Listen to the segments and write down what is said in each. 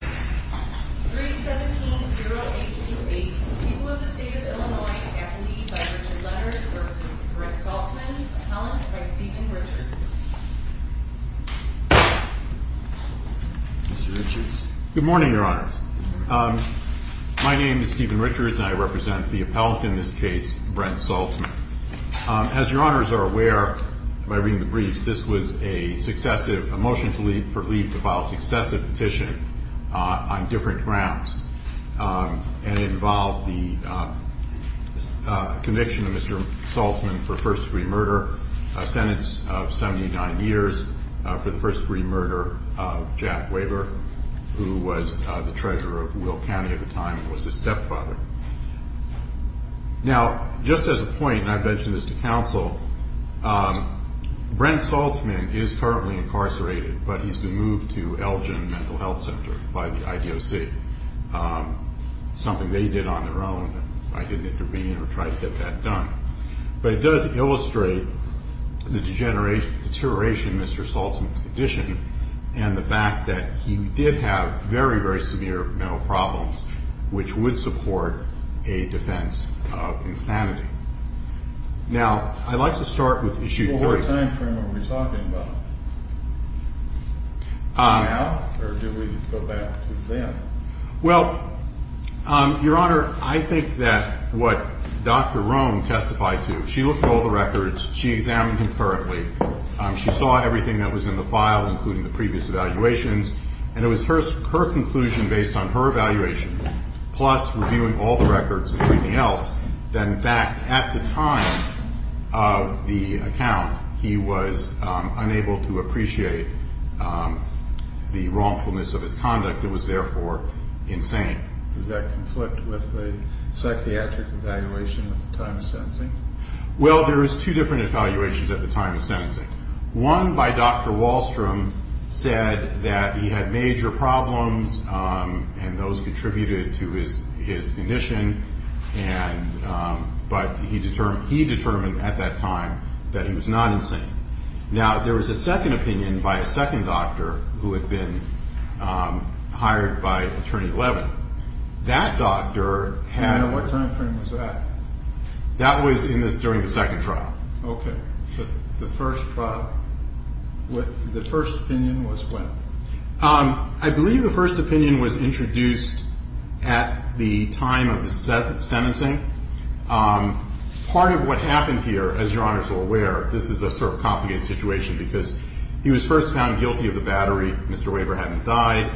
3-17-0-8-2-8. People of the State of Illinois, F. Lee by Richard Letters v. Brent Saltzman. Appellant by Stephen Richards. Good morning, Your Honors. My name is Stephen Richards, and I represent the appellant in this case, Brent Saltzman. As Your Honors are aware, by reading the briefs, this was a motion to leave for leave to file successive petition on different grounds. And it involved the conviction of Mr. Saltzman for first-degree murder, a sentence of 79 years for the first-degree murder of Jack Waver, who was the treasurer of Will County at the time and was his stepfather. Now, just as a point, and I've mentioned this to counsel, Brent Saltzman is currently incarcerated, but he's been moved to Elgin Mental Health Center by the IDOC, something they did on their own. I didn't intervene or try to get that done. But it does illustrate the deterioration of Mr. Saltzman's condition and the fact that he did have very, very severe mental problems, which would support a defense of insanity. Now, I'd like to start with Issue 3. Well, what time frame are we talking about? Now? Or do we go back to then? Well, Your Honor, I think that what Dr. Rome testified to, she looked at all the records. She examined him thoroughly. She saw everything that was in the file, including the previous evaluations. And it was her conclusion, based on her evaluation, plus reviewing all the records and everything else, that in fact at the time of the account, he was unable to appreciate the wrongfulness of his conduct. It was therefore insane. Does that conflict with the psychiatric evaluation at the time of sentencing? Well, there is two different evaluations at the time of sentencing. One by Dr. Wahlstrom said that he had major problems, and those contributed to his condition. But he determined at that time that he was not insane. Now, there was a second opinion by a second doctor who had been hired by Attorney Levin. That doctor had- And what time frame was that? That was during the second trial. Okay. The first trial. The first opinion was when? I believe the first opinion was introduced at the time of the sentencing. Part of what happened here, as Your Honors are aware, this is a sort of complicated situation, because he was first found guilty of the battery. Mr. Waver hadn't died.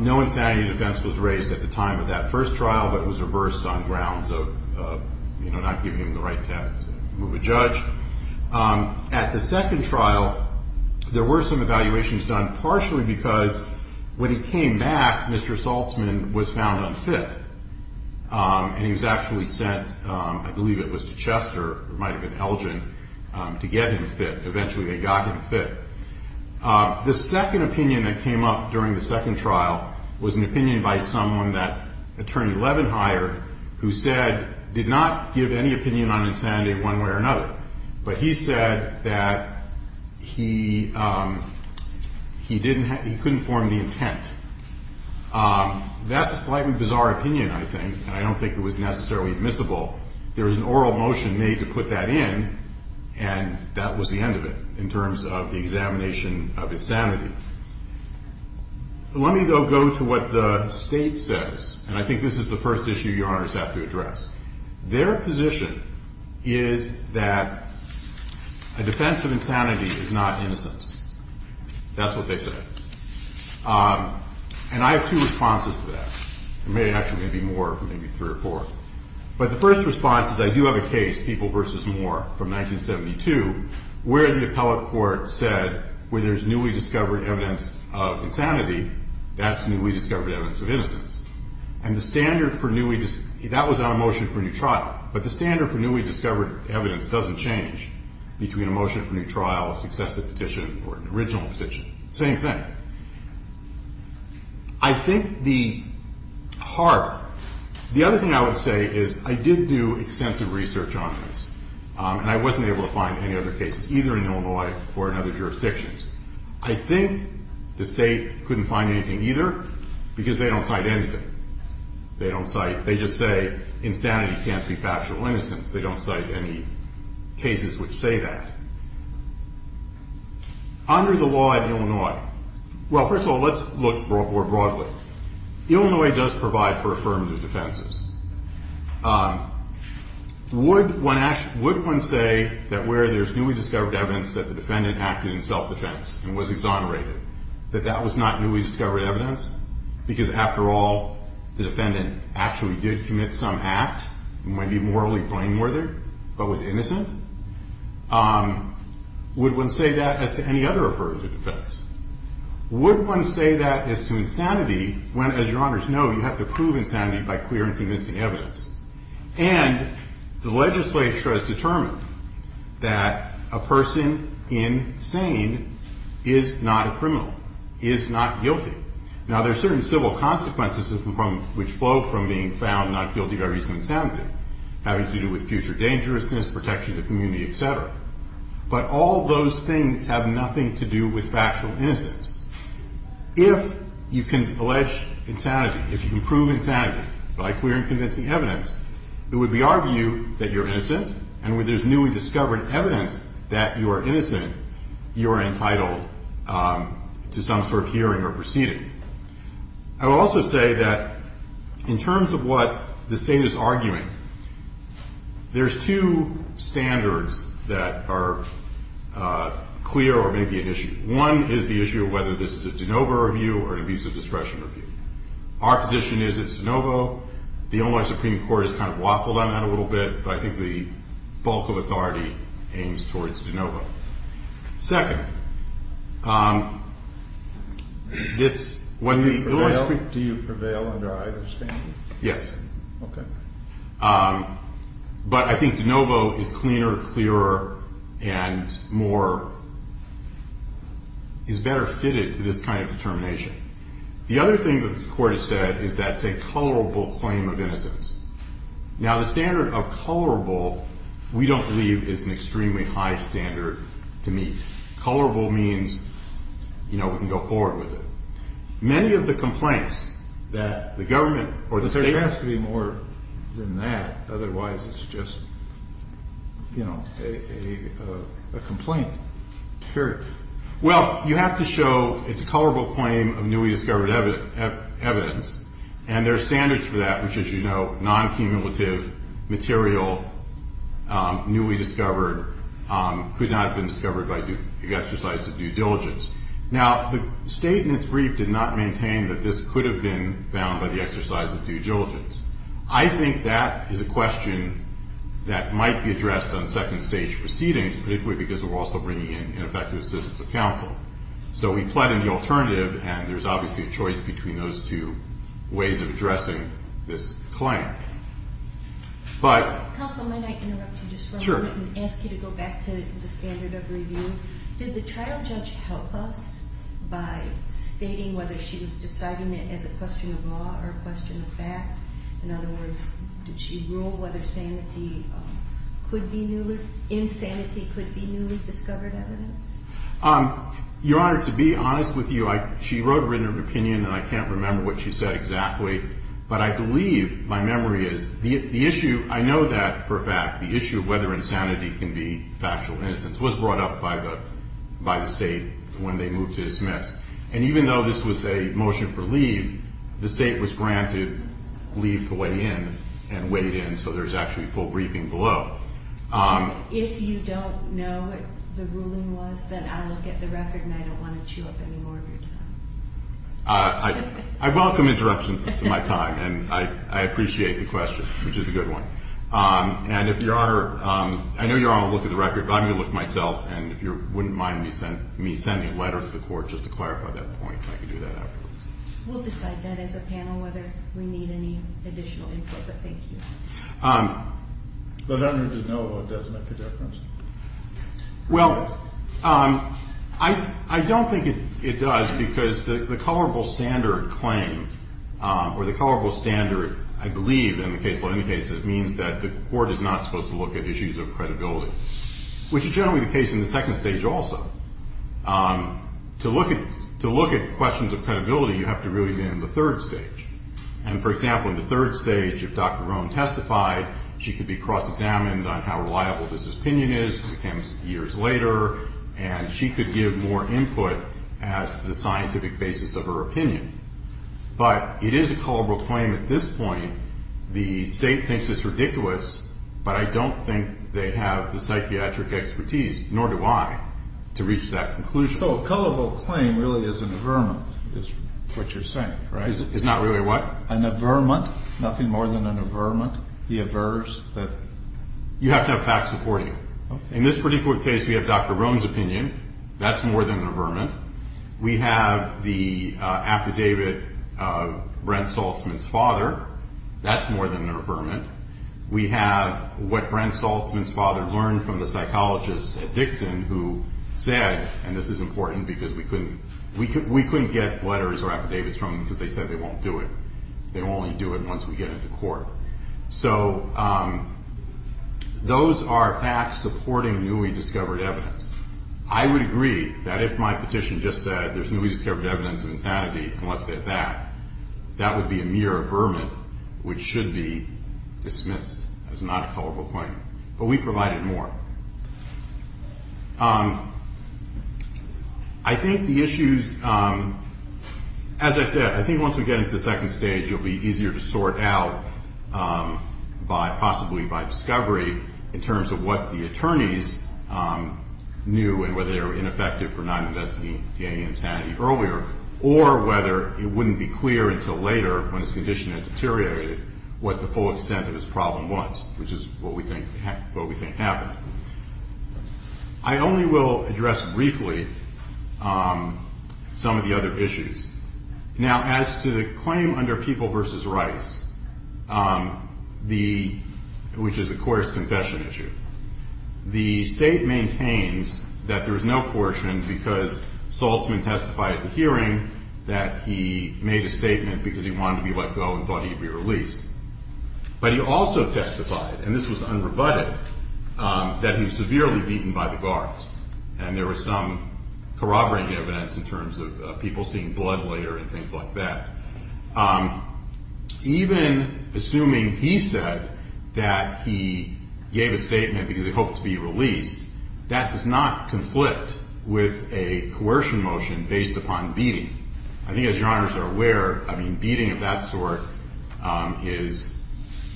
No insanity defense was raised at the time of that first trial, but it was reversed on grounds of, you know, not giving him the right to move a judge. At the second trial, there were some evaluations done, partially because when he came back, Mr. Saltzman was found unfit, and he was actually sent, I believe it was to Chester, it might have been Elgin, to get him fit. Eventually they got him fit. The second opinion that came up during the second trial was an opinion by someone that Attorney Levin hired, who said, did not give any opinion on insanity one way or another, but he said that he couldn't form the intent. That's a slightly bizarre opinion, I think, and I don't think it was necessarily admissible. There was an oral motion made to put that in, and that was the end of it, in terms of the examination of insanity. Let me, though, go to what the State says, and I think this is the first issue Your Honors have to address. Their position is that a defense of insanity is not innocence. That's what they say. And I have two responses to that. There may actually be more, maybe three or four. But the first response is I do have a case, People v. Moore, from 1972, where the appellate court said where there's newly discovered evidence of insanity, that's newly discovered evidence of innocence. And the standard for newly discovered evidence doesn't change between a motion for new trial, a successive petition, or an original petition. Same thing. I think the other thing I would say is I did do extensive research on this, and I wasn't able to find any other case, either in Illinois or in other jurisdictions. I think the State couldn't find anything, either, because they don't cite anything. They don't cite they just say insanity can't be factual innocence. They don't cite any cases which say that. Under the law of Illinois, well, first of all, let's look more broadly. Illinois does provide for affirmative defenses. Would one say that where there's newly discovered evidence that the defendant acted in self-defense and was exonerated, that that was not newly discovered evidence because, after all, the defendant actually did commit some act, might be morally blameworthy, but was innocent? Would one say that as to any other affirmative defense? Would one say that as to insanity when, as Your Honors know, you have to prove insanity by clear and convincing evidence? And the legislature has determined that a person in sane is not a criminal, is not guilty. Now, there are certain civil consequences which flow from being found not guilty by reason of insanity, having to do with future dangerousness, protection of the community, et cetera. But all those things have nothing to do with factual innocence. If you can allege insanity, if you can prove insanity by clear and convincing evidence, it would be our view that you're innocent, and when there's newly discovered evidence that you are innocent, you are entitled to some sort of hearing or proceeding. I will also say that in terms of what the State is arguing, there's two standards that are clear or may be an issue. One is the issue of whether this is a de novo review or an abusive discretion review. Our position is it's de novo. The Illinois Supreme Court has kind of waffled on that a little bit, but I think the bulk of authority aims towards de novo. Second, it's when the- Do you prevail under either standard? Yes. Okay. But I think de novo is cleaner, clearer, and more-is better fitted to this kind of determination. The other thing that this Court has said is that it's a colorable claim of innocence. Now, the standard of colorable we don't believe is an extremely high standard to meet. Colorable means, you know, we can go forward with it. Many of the complaints that the government or the State- There has to be more than that. Otherwise, it's just, you know, a complaint. Sure. Well, you have to show it's a colorable claim of newly discovered evidence, and there are standards for that, which, as you know, non-cumulative, material, newly discovered, could not have been discovered by exercise of due diligence. Now, the State in its brief did not maintain that this could have been found by the exercise of due diligence. I think that is a question that might be addressed on second-stage proceedings, particularly because we're also bringing in ineffective assistance of counsel. So we pled in the alternative, and there's obviously a choice between those two ways of addressing this claim. But- Counsel, may I interrupt you just for a moment? Sure. And ask you to go back to the standard of review. Did the trial judge help us by stating whether she was deciding it as a question of law or a question of fact? In other words, did she rule whether insanity could be newly discovered evidence? Your Honor, to be honest with you, she wrote written opinion, and I can't remember what she said exactly, but I believe my memory is the issue- by the State when they moved to dismiss. And even though this was a motion for leave, the State was granted leave to weigh in and weighed in, so there's actually a full briefing below. If you don't know what the ruling was, then I will get the record, and I don't want to chew up any more of your time. I welcome interruptions of my time, and I appreciate the question, which is a good one. And if Your Honor-I know you're on a look at the record, but I'm going to look at it myself, and if you wouldn't mind me sending a letter to the Court just to clarify that point, I can do that afterwards. We'll decide that as a panel whether we need any additional input, but thank you. But I don't need to know if it does make a difference. Well, I don't think it does because the colorable standard claim, or the colorable standard, I believe, in the case law indicates it means that the Court is not supposed to look at issues of credibility, which is generally the case in the second stage also. To look at questions of credibility, you have to really be in the third stage. And, for example, in the third stage, if Dr. Rome testified, she could be cross-examined on how reliable this opinion is because it came years later, and she could give more input as to the scientific basis of her opinion. But it is a colorable claim at this point. The State thinks it's ridiculous, but I don't think they have the psychiatric expertise, nor do I, to reach that conclusion. So a colorable claim really is an averment, is what you're saying, right? It's not really a what? An averment, nothing more than an averment. The avers that... You have to have facts supporting it. Okay. In this particular case, we have Dr. Rome's opinion. That's more than an averment. We have the affidavit of Brent Saltzman's father. That's more than an averment. We have what Brent Saltzman's father learned from the psychologist at Dixon who said, and this is important because we couldn't get letters or affidavits from them because they said they won't do it. They'll only do it once we get it to court. So those are facts supporting newly discovered evidence. I would agree that if my petition just said there's newly discovered evidence of insanity and left it at that, that would be a mere averment which should be dismissed as not a colorable claim. But we provided more. I think the issues, as I said, I think once we get into the second stage, you'll be easier to sort out by possibly by discovery in terms of what the attorneys knew and whether they were ineffective for not investigating insanity earlier or whether it wouldn't be clear until later when his condition had deteriorated what the full extent of his problem was, which is what we think happened. I only will address briefly some of the other issues. Now, as to the claim under People v. Rice, which is a court's confession issue, the state maintains that there is no coercion because Saltzman testified at the hearing that he made a statement because he wanted to be let go and thought he'd be released. But he also testified, and this was unrebutted, that he was severely beaten by the guards, and there was some corroborating evidence in terms of people seeing blood later and things like that. Even assuming he said that he gave a statement because he hoped to be released, that does not conflict with a coercion motion based upon beating. I think, as Your Honors are aware, I mean, beating of that sort is,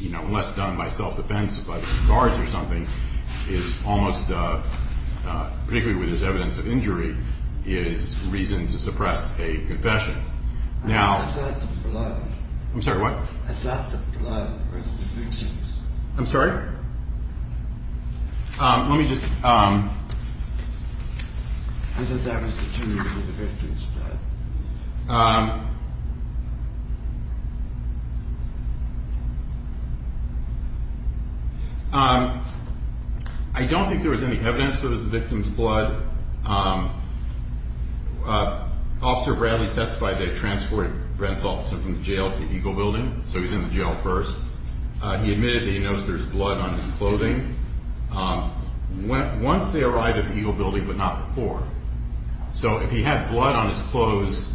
you know, unless done by self-defense, by the guards or something, is almost, particularly where there's evidence of injury, is reason to suppress a confession. Now- I thought that was blood. I'm sorry, what? I thought that was blood. I'm sorry? Let me just- I thought that was the victim's blood. I don't think there was any evidence that it was the victim's blood. Officer Bradley testified that he transported Brent Saltzman from jail to the Eagle Building, so he's in the jail first. He admitted that he noticed there was blood on his clothing. Once they arrived at the Eagle Building but not before. So if he had blood on his clothes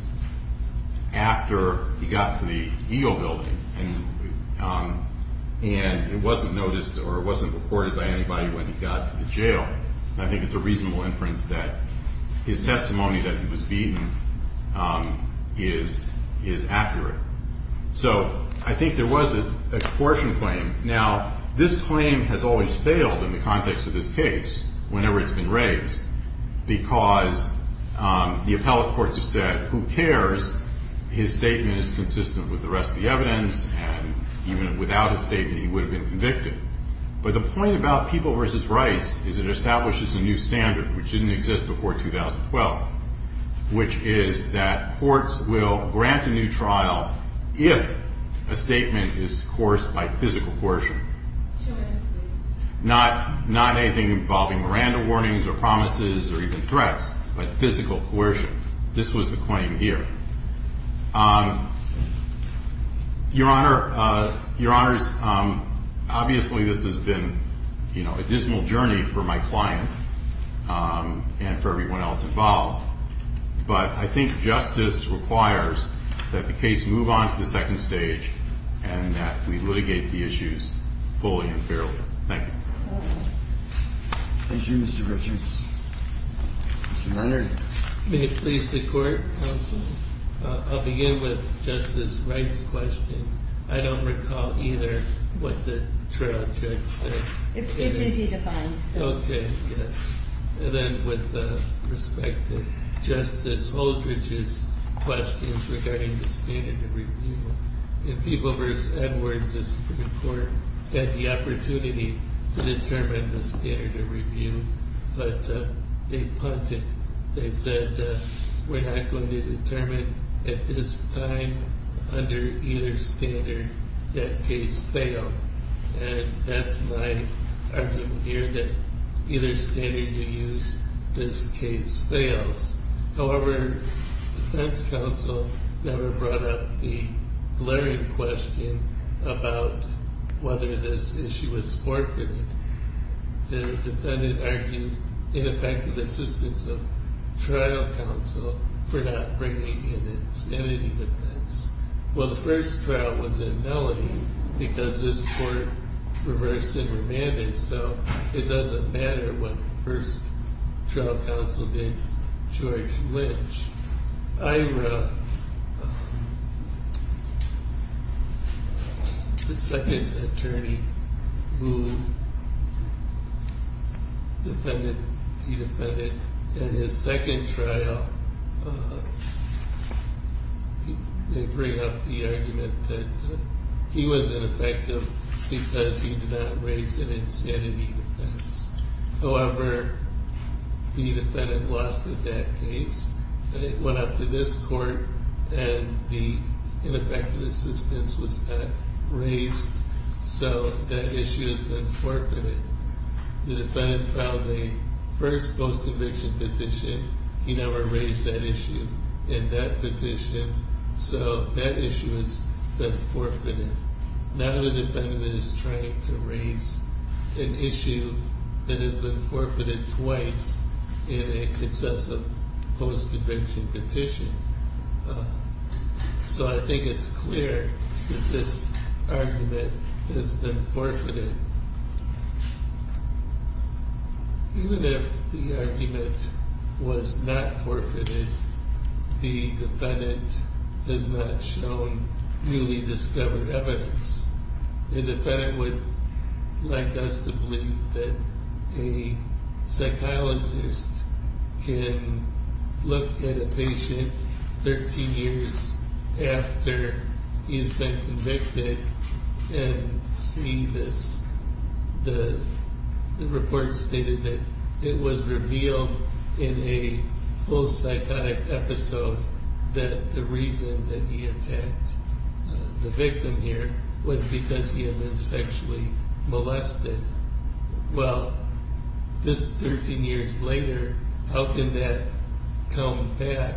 after he got to the Eagle Building and it wasn't noticed or it wasn't recorded by anybody when he got to the jail, I think it's a reasonable inference that his testimony that he was beaten is accurate. So I think there was a coercion claim. Now, this claim has always failed in the context of this case whenever it's been raised because the appellate courts have said, who cares, his statement is consistent with the rest of the evidence, and even without a statement he would have been convicted. But the point about People v. Rice is it establishes a new standard which didn't exist before 2012, which is that courts will grant a new trial if a statement is coerced by physical coercion. Not anything involving Miranda warnings or promises or even threats, but physical coercion. This was the claim here. Your Honor, obviously this has been a dismal journey for my client and for everyone else involved, but I think justice requires that the case move on to the second stage and that we litigate the issues fully and fairly. Thank you. Thank you, Mr. Richards. Mr. Leonard. May it please the court, counsel? I'll begin with Justice Wright's question. I don't recall either what the trial judge said. It's easy to find. Okay, yes. And then with respect to Justice Holdridge's questions regarding the standard of review, in People v. Edwards, the Supreme Court had the opportunity to determine the standard of review, but they punted. They said we're not going to determine at this time under either standard that case failed, and that's my argument here, that either standard you use, this case fails. However, the defense counsel never brought up the glaring question about whether this issue was forfeited. The defendant argued ineffective assistance of trial counsel for not bringing in insanity defense. Well, the first trial was in Melody because this court reversed and remanded, so it doesn't matter what the first trial counsel did, George Lynch. Ira, the second attorney who defended the defendant in his second trial, they bring up the argument that he was ineffective because he did not raise an insanity defense. However, the defendant lost in that case. It went up to this court, and the ineffective assistance was not raised, so that issue has been forfeited. The defendant filed the first post-conviction petition. He never raised that issue in that petition, so that issue has been forfeited. Now the defendant is trying to raise an issue that has been forfeited twice in a successive post-conviction petition, so I think it's clear that this argument has been forfeited. Even if the argument was not forfeited, the defendant has not shown newly discovered evidence. The defendant would like us to believe that a psychologist can look at a patient 13 years after he's been convicted and see this. The report stated that it was revealed in a post-psychotic episode that the reason that he attacked the victim here was because he had been sexually molested. Well, this is 13 years later. How can that come back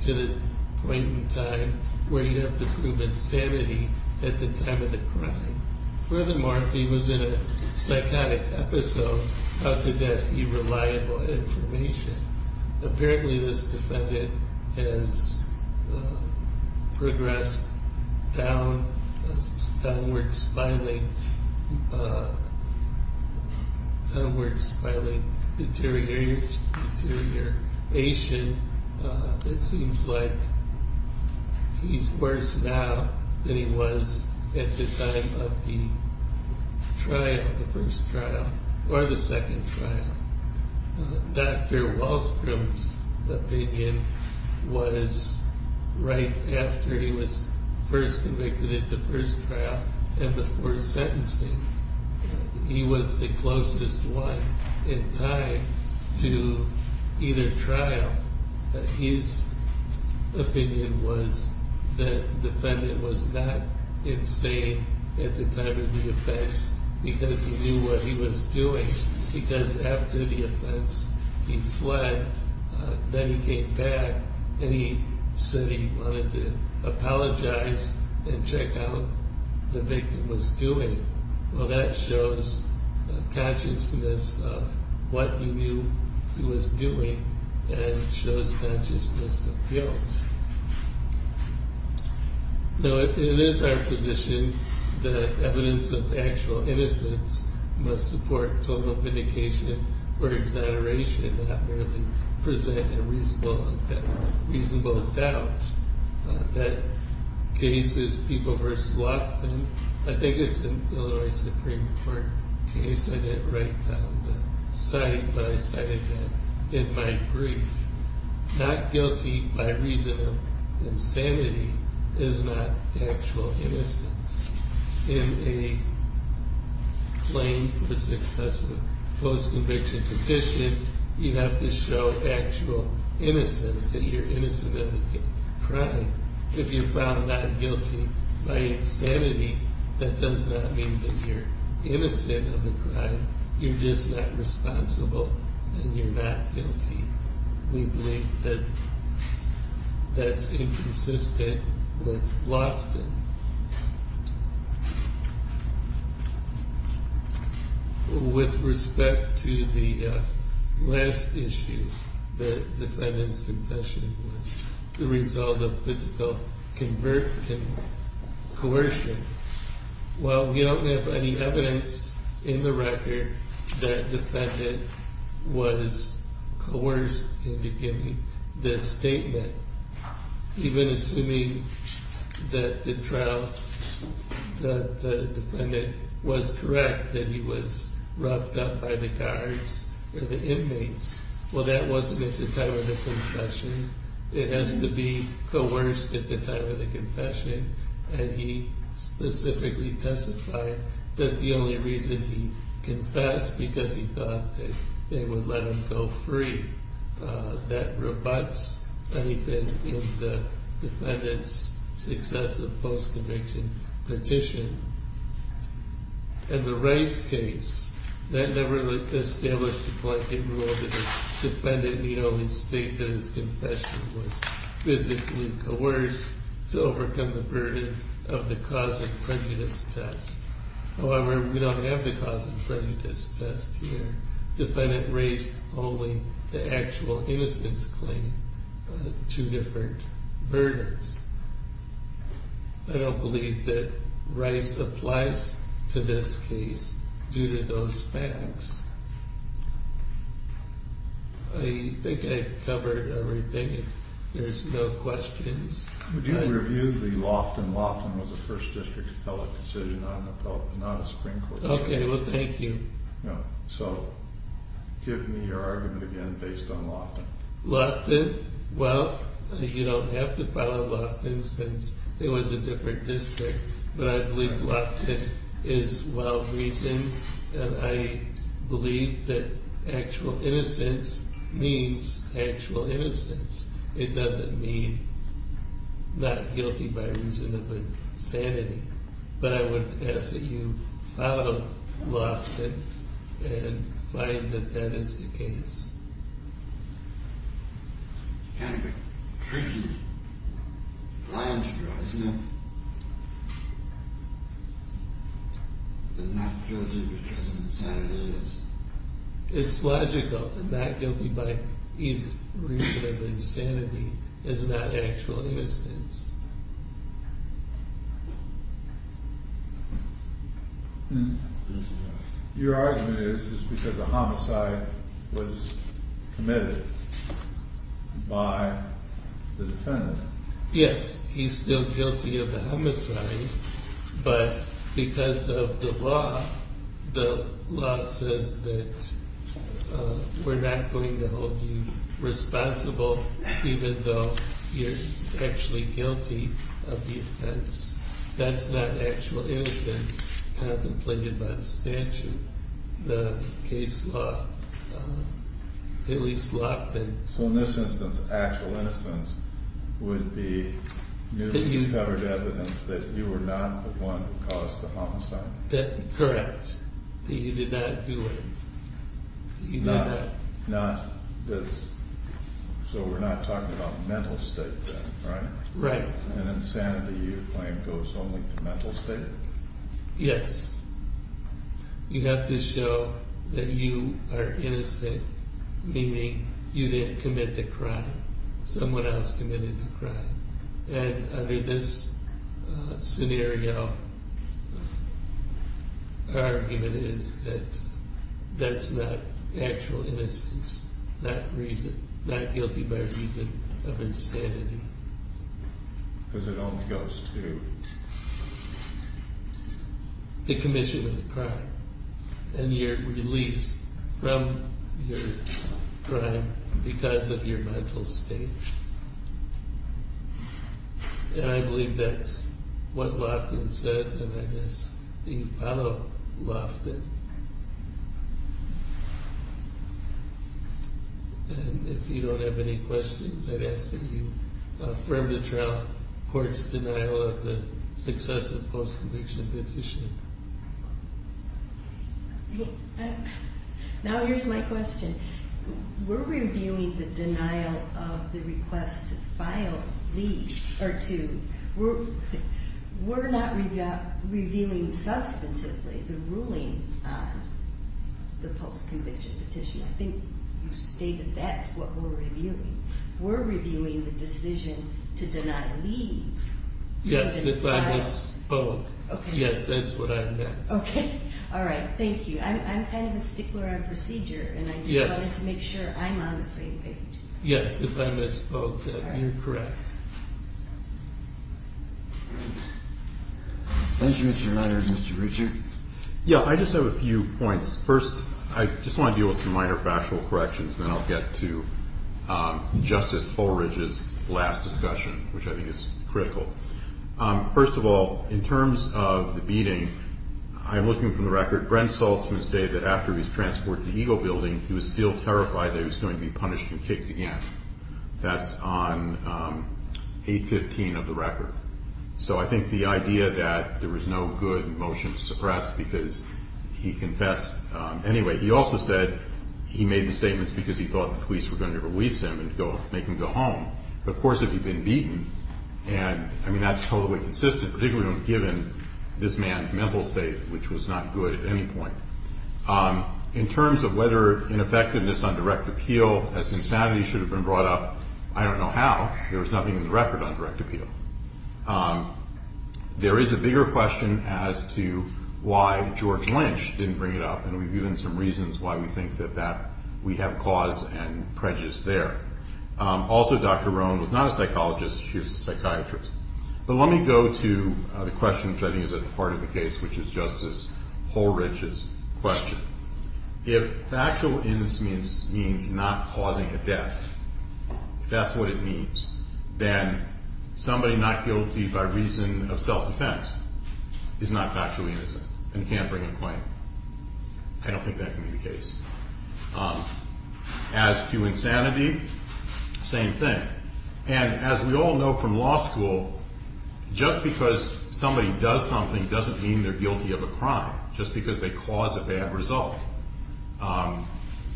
to the point in time where you have to prove insanity at the time of the crime? Furthermore, if he was in a psychotic episode, how could that be reliable information? Apparently this defendant has progressed downward-spiling deterioration. It seems like he's worse now than he was at the time of the first trial or the second trial. Dr. Wahlstrom's opinion was right after he was first convicted at the first trial and before sentencing. He was the closest one in time to either trial. His opinion was that the defendant was not insane at the time of the offense because he knew what he was doing. Because after the offense, he fled. Then he came back and he said he wanted to apologize and check how the victim was doing. Well, that shows consciousness of what he knew he was doing and shows consciousness of guilt. No, it is our position that evidence of actual innocence must support total vindication or exoneration and not merely present a reasonable doubt. That case is People v. Loftin. I think it's an Illinois Supreme Court case. I didn't write down the site, but I cited that in my brief. Not guilty by reason of insanity is not actual innocence. In a claim for successive post-conviction petition, you have to show actual innocence, that you're innocent of the crime. If you're found not guilty by insanity, that does not mean that you're innocent of the crime. You're just not responsible and you're not guilty. We believe that that's inconsistent with Loftin. With respect to the last issue, the defendant's confession was the result of physical coercion. Well, we don't have any evidence in the record that the defendant was coerced into giving this statement. Even assuming that the trial, that the defendant was correct, that he was roughed up by the guards or the inmates, well, that wasn't at the time of the confession. It has to be coerced at the time of the confession. And he specifically testified that the only reason he confessed, because he thought that they would let him go free, that rebuts anything in the defendant's successive post-conviction petition. And the Rice case, that never established the blanket rule that the defendant need only state that his confession was physically coerced to overcome the burden of the cause of prejudice test. However, we don't have the cause of prejudice test here. The defendant raised only the actual innocence claim, two different burdens. I don't believe that Rice applies to this case due to those facts. I think I've covered everything, if there's no questions. Would you review the Loftin? Loftin was a First District appellate decision, not a Supreme Court decision. Okay, well, thank you. So, give me your argument again based on Loftin. Loftin, well, you don't have to follow Loftin since it was a different district. But I believe Loftin is well reasoned, and I believe that actual innocence means actual innocence. It doesn't mean not guilty by reason of insanity. But I would ask that you follow Loftin and find that that is the case. Kind of a crazy line to draw, isn't it? That not guilty because of insanity is. It's logical that not guilty by reason of insanity is not actual innocence. Your argument is because a homicide was committed by the defendant. Yes, he's still guilty of the homicide. But because of the law, the law says that we're not going to hold you responsible even though you're actually guilty. That's not actual innocence contemplated by the statute. The case law, at least Loftin. So in this instance, actual innocence would be you discovered evidence that you were not the one who caused the homicide. Correct. That you did not do it. Not this. So we're not talking about mental state then, right? Right. And insanity, you claim, goes only to mental state? Yes. You have to show that you are innocent, meaning you didn't commit the crime. Someone else committed the crime. And under this scenario, our argument is that that's not actual innocence, not guilty by reason of insanity. Because it only goes to? The commission of the crime. And you're released from your crime because of your mental state. And I believe that's what Loftin says, and I guess you follow Loftin. And if you don't have any questions, I'd ask that you affirm the trial court's denial of the successive post-conviction petition. Now here's my question. We're reviewing the denial of the request to file leave, or to. We're not reviewing substantively the ruling on the post-conviction petition. I think you stated that's what we're reviewing. We're reviewing the decision to deny leave. Yes, if I miss both. Okay. Yes, that's what I meant. Okay, all right, thank you. I'm kind of a stickler on procedure, and I just wanted to make sure I'm on the same page. Yes, if I miss both, you're correct. Thank you, Mr. Meyers. Mr. Richard? Yeah, I just have a few points. First, I just want to deal with some minor factual corrections, and then I'll get to Justice Fullridge's last discussion, which I think is critical. First of all, in terms of the beating, I'm looking from the record. Brent Saltzman stated that after he was transported to the Eagle Building, he was still terrified that he was going to be punished and kicked again. That's on 815 of the record. So I think the idea that there was no good motion to suppress because he confessed anyway. He also said he made the statements because he thought the police were going to release him and make him go home. Of course, if he'd been beaten, and, I mean, that's totally consistent, particularly given this man's mental state, which was not good at any point. In terms of whether ineffectiveness on direct appeal as to insanity should have been brought up, I don't know how. There was nothing in the record on direct appeal. There is a bigger question as to why George Lynch didn't bring it up, and we've given some reasons why we think that we have cause and prejudice there. Also, Dr. Roan was not a psychologist. She was a psychiatrist. But let me go to the question, which I think is at the heart of the case, which is Justice Holrich's question. If factual innocence means not causing a death, if that's what it means, then somebody not guilty by reason of self-defense is not factually innocent and can't bring a claim. I don't think that can be the case. As to insanity, same thing. And as we all know from law school, just because somebody does something doesn't mean they're guilty of a crime, just because they cause a bad result.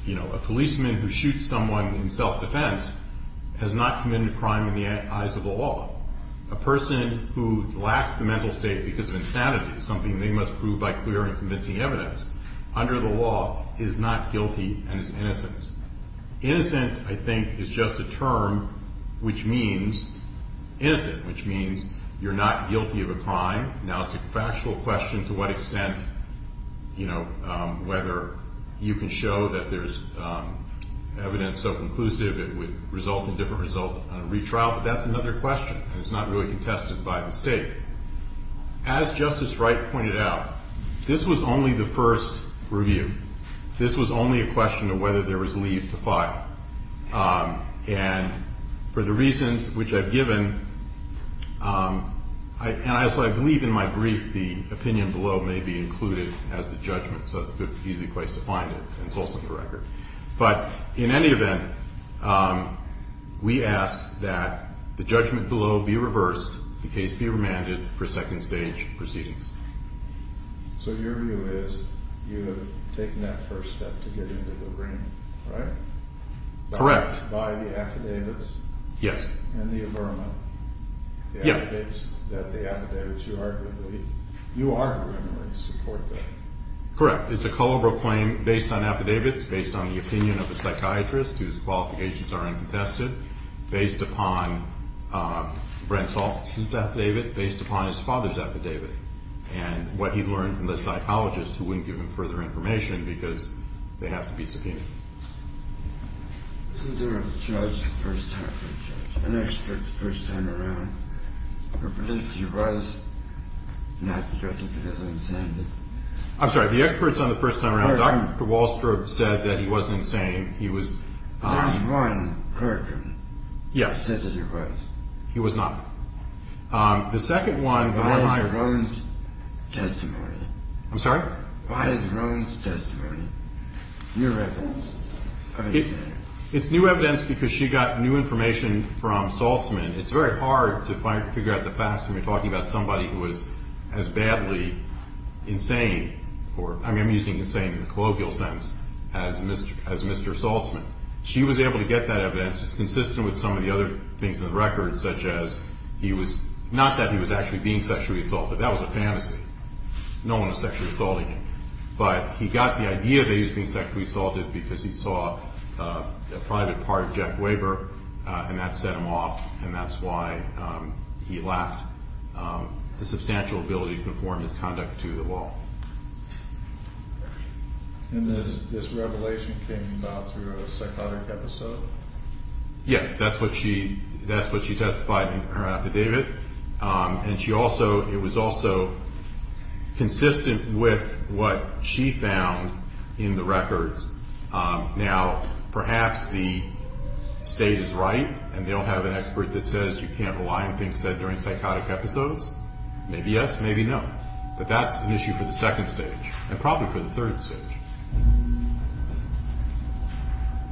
You know, a policeman who shoots someone in self-defense has not committed a crime in the eyes of the law. A person who lacks the mental state because of insanity is something they must prove by clear and convincing evidence under the law is not guilty and is innocent. Innocent, I think, is just a term which means innocent, which means you're not guilty of a crime. Now, it's a factual question to what extent, you know, whether you can show that there's evidence so conclusive it would result in a different result on a retrial. But that's another question, and it's not really contested by the state. As Justice Wright pointed out, this was only the first review. This was only a question of whether there was leave to file. And for the reasons which I've given, and I believe in my brief the opinion below may be included as the judgment, so that's an easy place to find it, and it's also the record. But in any event, we ask that the judgment below be reversed, the case be remanded for second-stage proceedings. So your view is you have taken that first step to get into the ring, right? Correct. By the affidavits? Yes. And the affidavits, you arguably support that. Correct. It's a cul-de-sac claim based on affidavits, based on the opinion of a psychiatrist whose qualifications are uncontested, based upon Brent's office's affidavit, based upon his father's affidavit, and what he learned from the psychologist who wouldn't give him further information because they have to be subpoenaed. Was there a judge the first time or an expert the first time around who believed he was not guilty because of insanity? I'm sorry. The experts on the first time around, Dr. Wallstrobe said that he wasn't insane. There was one clerk who said that he was. He was not. The second one, the one liar. Why is Roan's testimony? I'm sorry? Why is Roan's testimony? New evidence. It's new evidence because she got new information from Saltzman. It's very hard to figure out the facts when you're talking about somebody who is as badly insane, or I'm using insane in a colloquial sense, as Mr. Saltzman. She was able to get that evidence. It's consistent with some of the other things in the record, such as not that he was actually being sexually assaulted. That was a fantasy. No one was sexually assaulting him. But he got the idea that he was being sexually assaulted because he saw a private part of Jack Weber, and that set him off, and that's why he lacked the substantial ability to conform his conduct to the law. And this revelation came about through a psychotic episode? Yes. That's what she testified in her affidavit. And she also, it was also consistent with what she found in the records. Now, perhaps the state is right, and they don't have an expert that says you can't rely on things said during psychotic episodes. Maybe yes, maybe no. But that's an issue for the second stage, and probably for the third stage.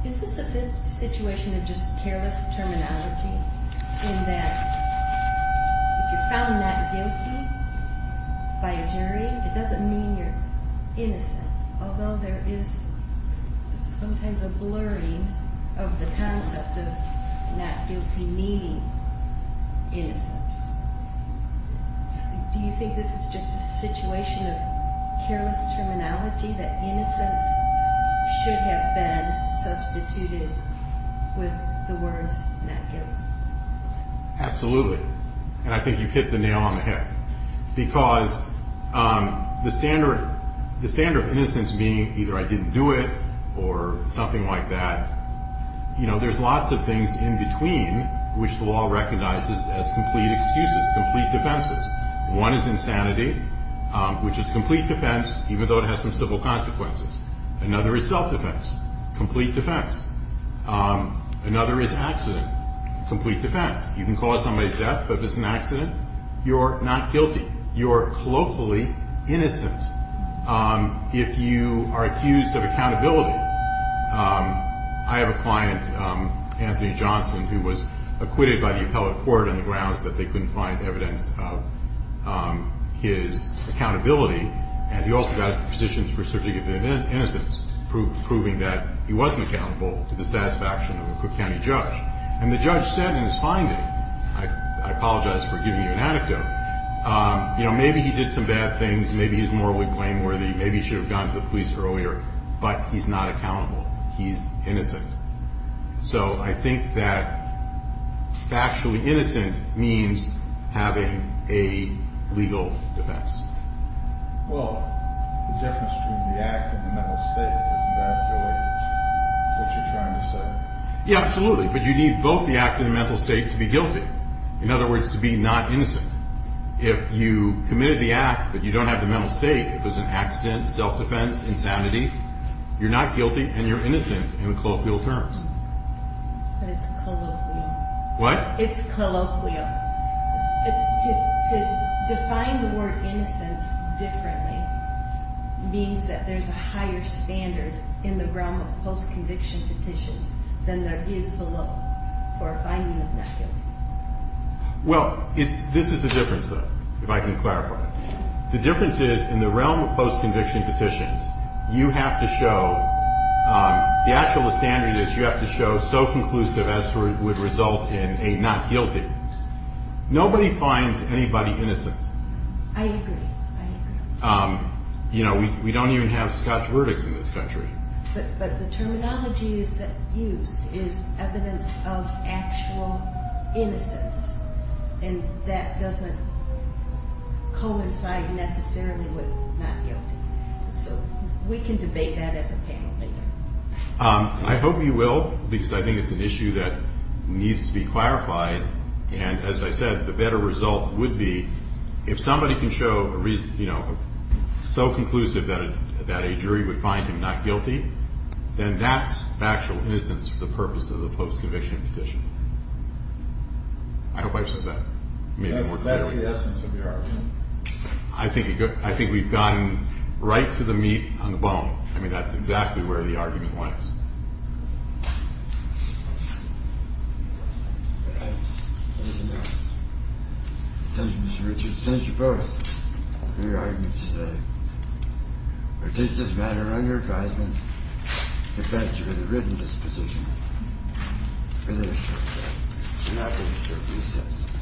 Is this a situation of just careless terminology, in that if you're found not guilty by a jury, it doesn't mean you're innocent, although there is sometimes a blurring of the concept of not guilty meaning innocence. Do you think this is just a situation of careless terminology, that innocence should have been substituted with the words not guilty? Absolutely. And I think you've hit the nail on the head. Because the standard of innocence being either I didn't do it or something like that, there's lots of things in between which the law recognizes as complete excuses, complete defenses. One is insanity, which is complete defense, even though it has some civil consequences. Another is self-defense, complete defense. Another is accident, complete defense. You can cause somebody's death, but if it's an accident, you're not guilty. You're colloquially innocent. If you are accused of accountability, I have a client, Anthony Johnson, who was acquitted by the appellate court on the grounds that they couldn't find evidence of his accountability. And he also got a position for surrogate innocence, proving that he wasn't accountable to the satisfaction of a Cook County judge. And the judge said in his finding, I apologize for giving you an anecdote, but maybe he did some bad things, maybe he's morally blameworthy, maybe he should have gone to the police earlier, but he's not accountable. He's innocent. So I think that factually innocent means having a legal defense. Well, the difference between the act and the mental state, isn't that what you're trying to say? Yeah, absolutely. In other words, to be not innocent. If you committed the act, but you don't have the mental state, if it was an accident, self-defense, insanity, you're not guilty and you're innocent in colloquial terms. But it's colloquial. What? It's colloquial. To define the word innocence differently means that there's a higher standard in the realm of post-conviction petitions than there is below for a finding of not guilty. Well, this is the difference, though, if I can clarify. The difference is in the realm of post-conviction petitions, you have to show, the actual standard is you have to show so conclusive as to what would result in a not guilty. Nobody finds anybody innocent. I agree. I agree. You know, we don't even have scotch verdicts in this country. But the terminology used is evidence of actual innocence. And that doesn't coincide necessarily with not guilty. So we can debate that as a panel. I hope you will, because I think it's an issue that needs to be clarified. And as I said, the better result would be if somebody can show, you know, so conclusive that a jury would find him not guilty, then that's factual innocence for the purpose of the post-conviction petition. I hope I've said that maybe more clearly. That's the essence of your argument. I think we've gotten right to the meat on the bone. I mean, that's exactly where the argument lies. All right. Anything else? Thank you, Mr. Richards. Thank you both for your arguments today. We'll take this matter under advisement. We thank you for the written disposition. We're going to short break. We're not going to short recess.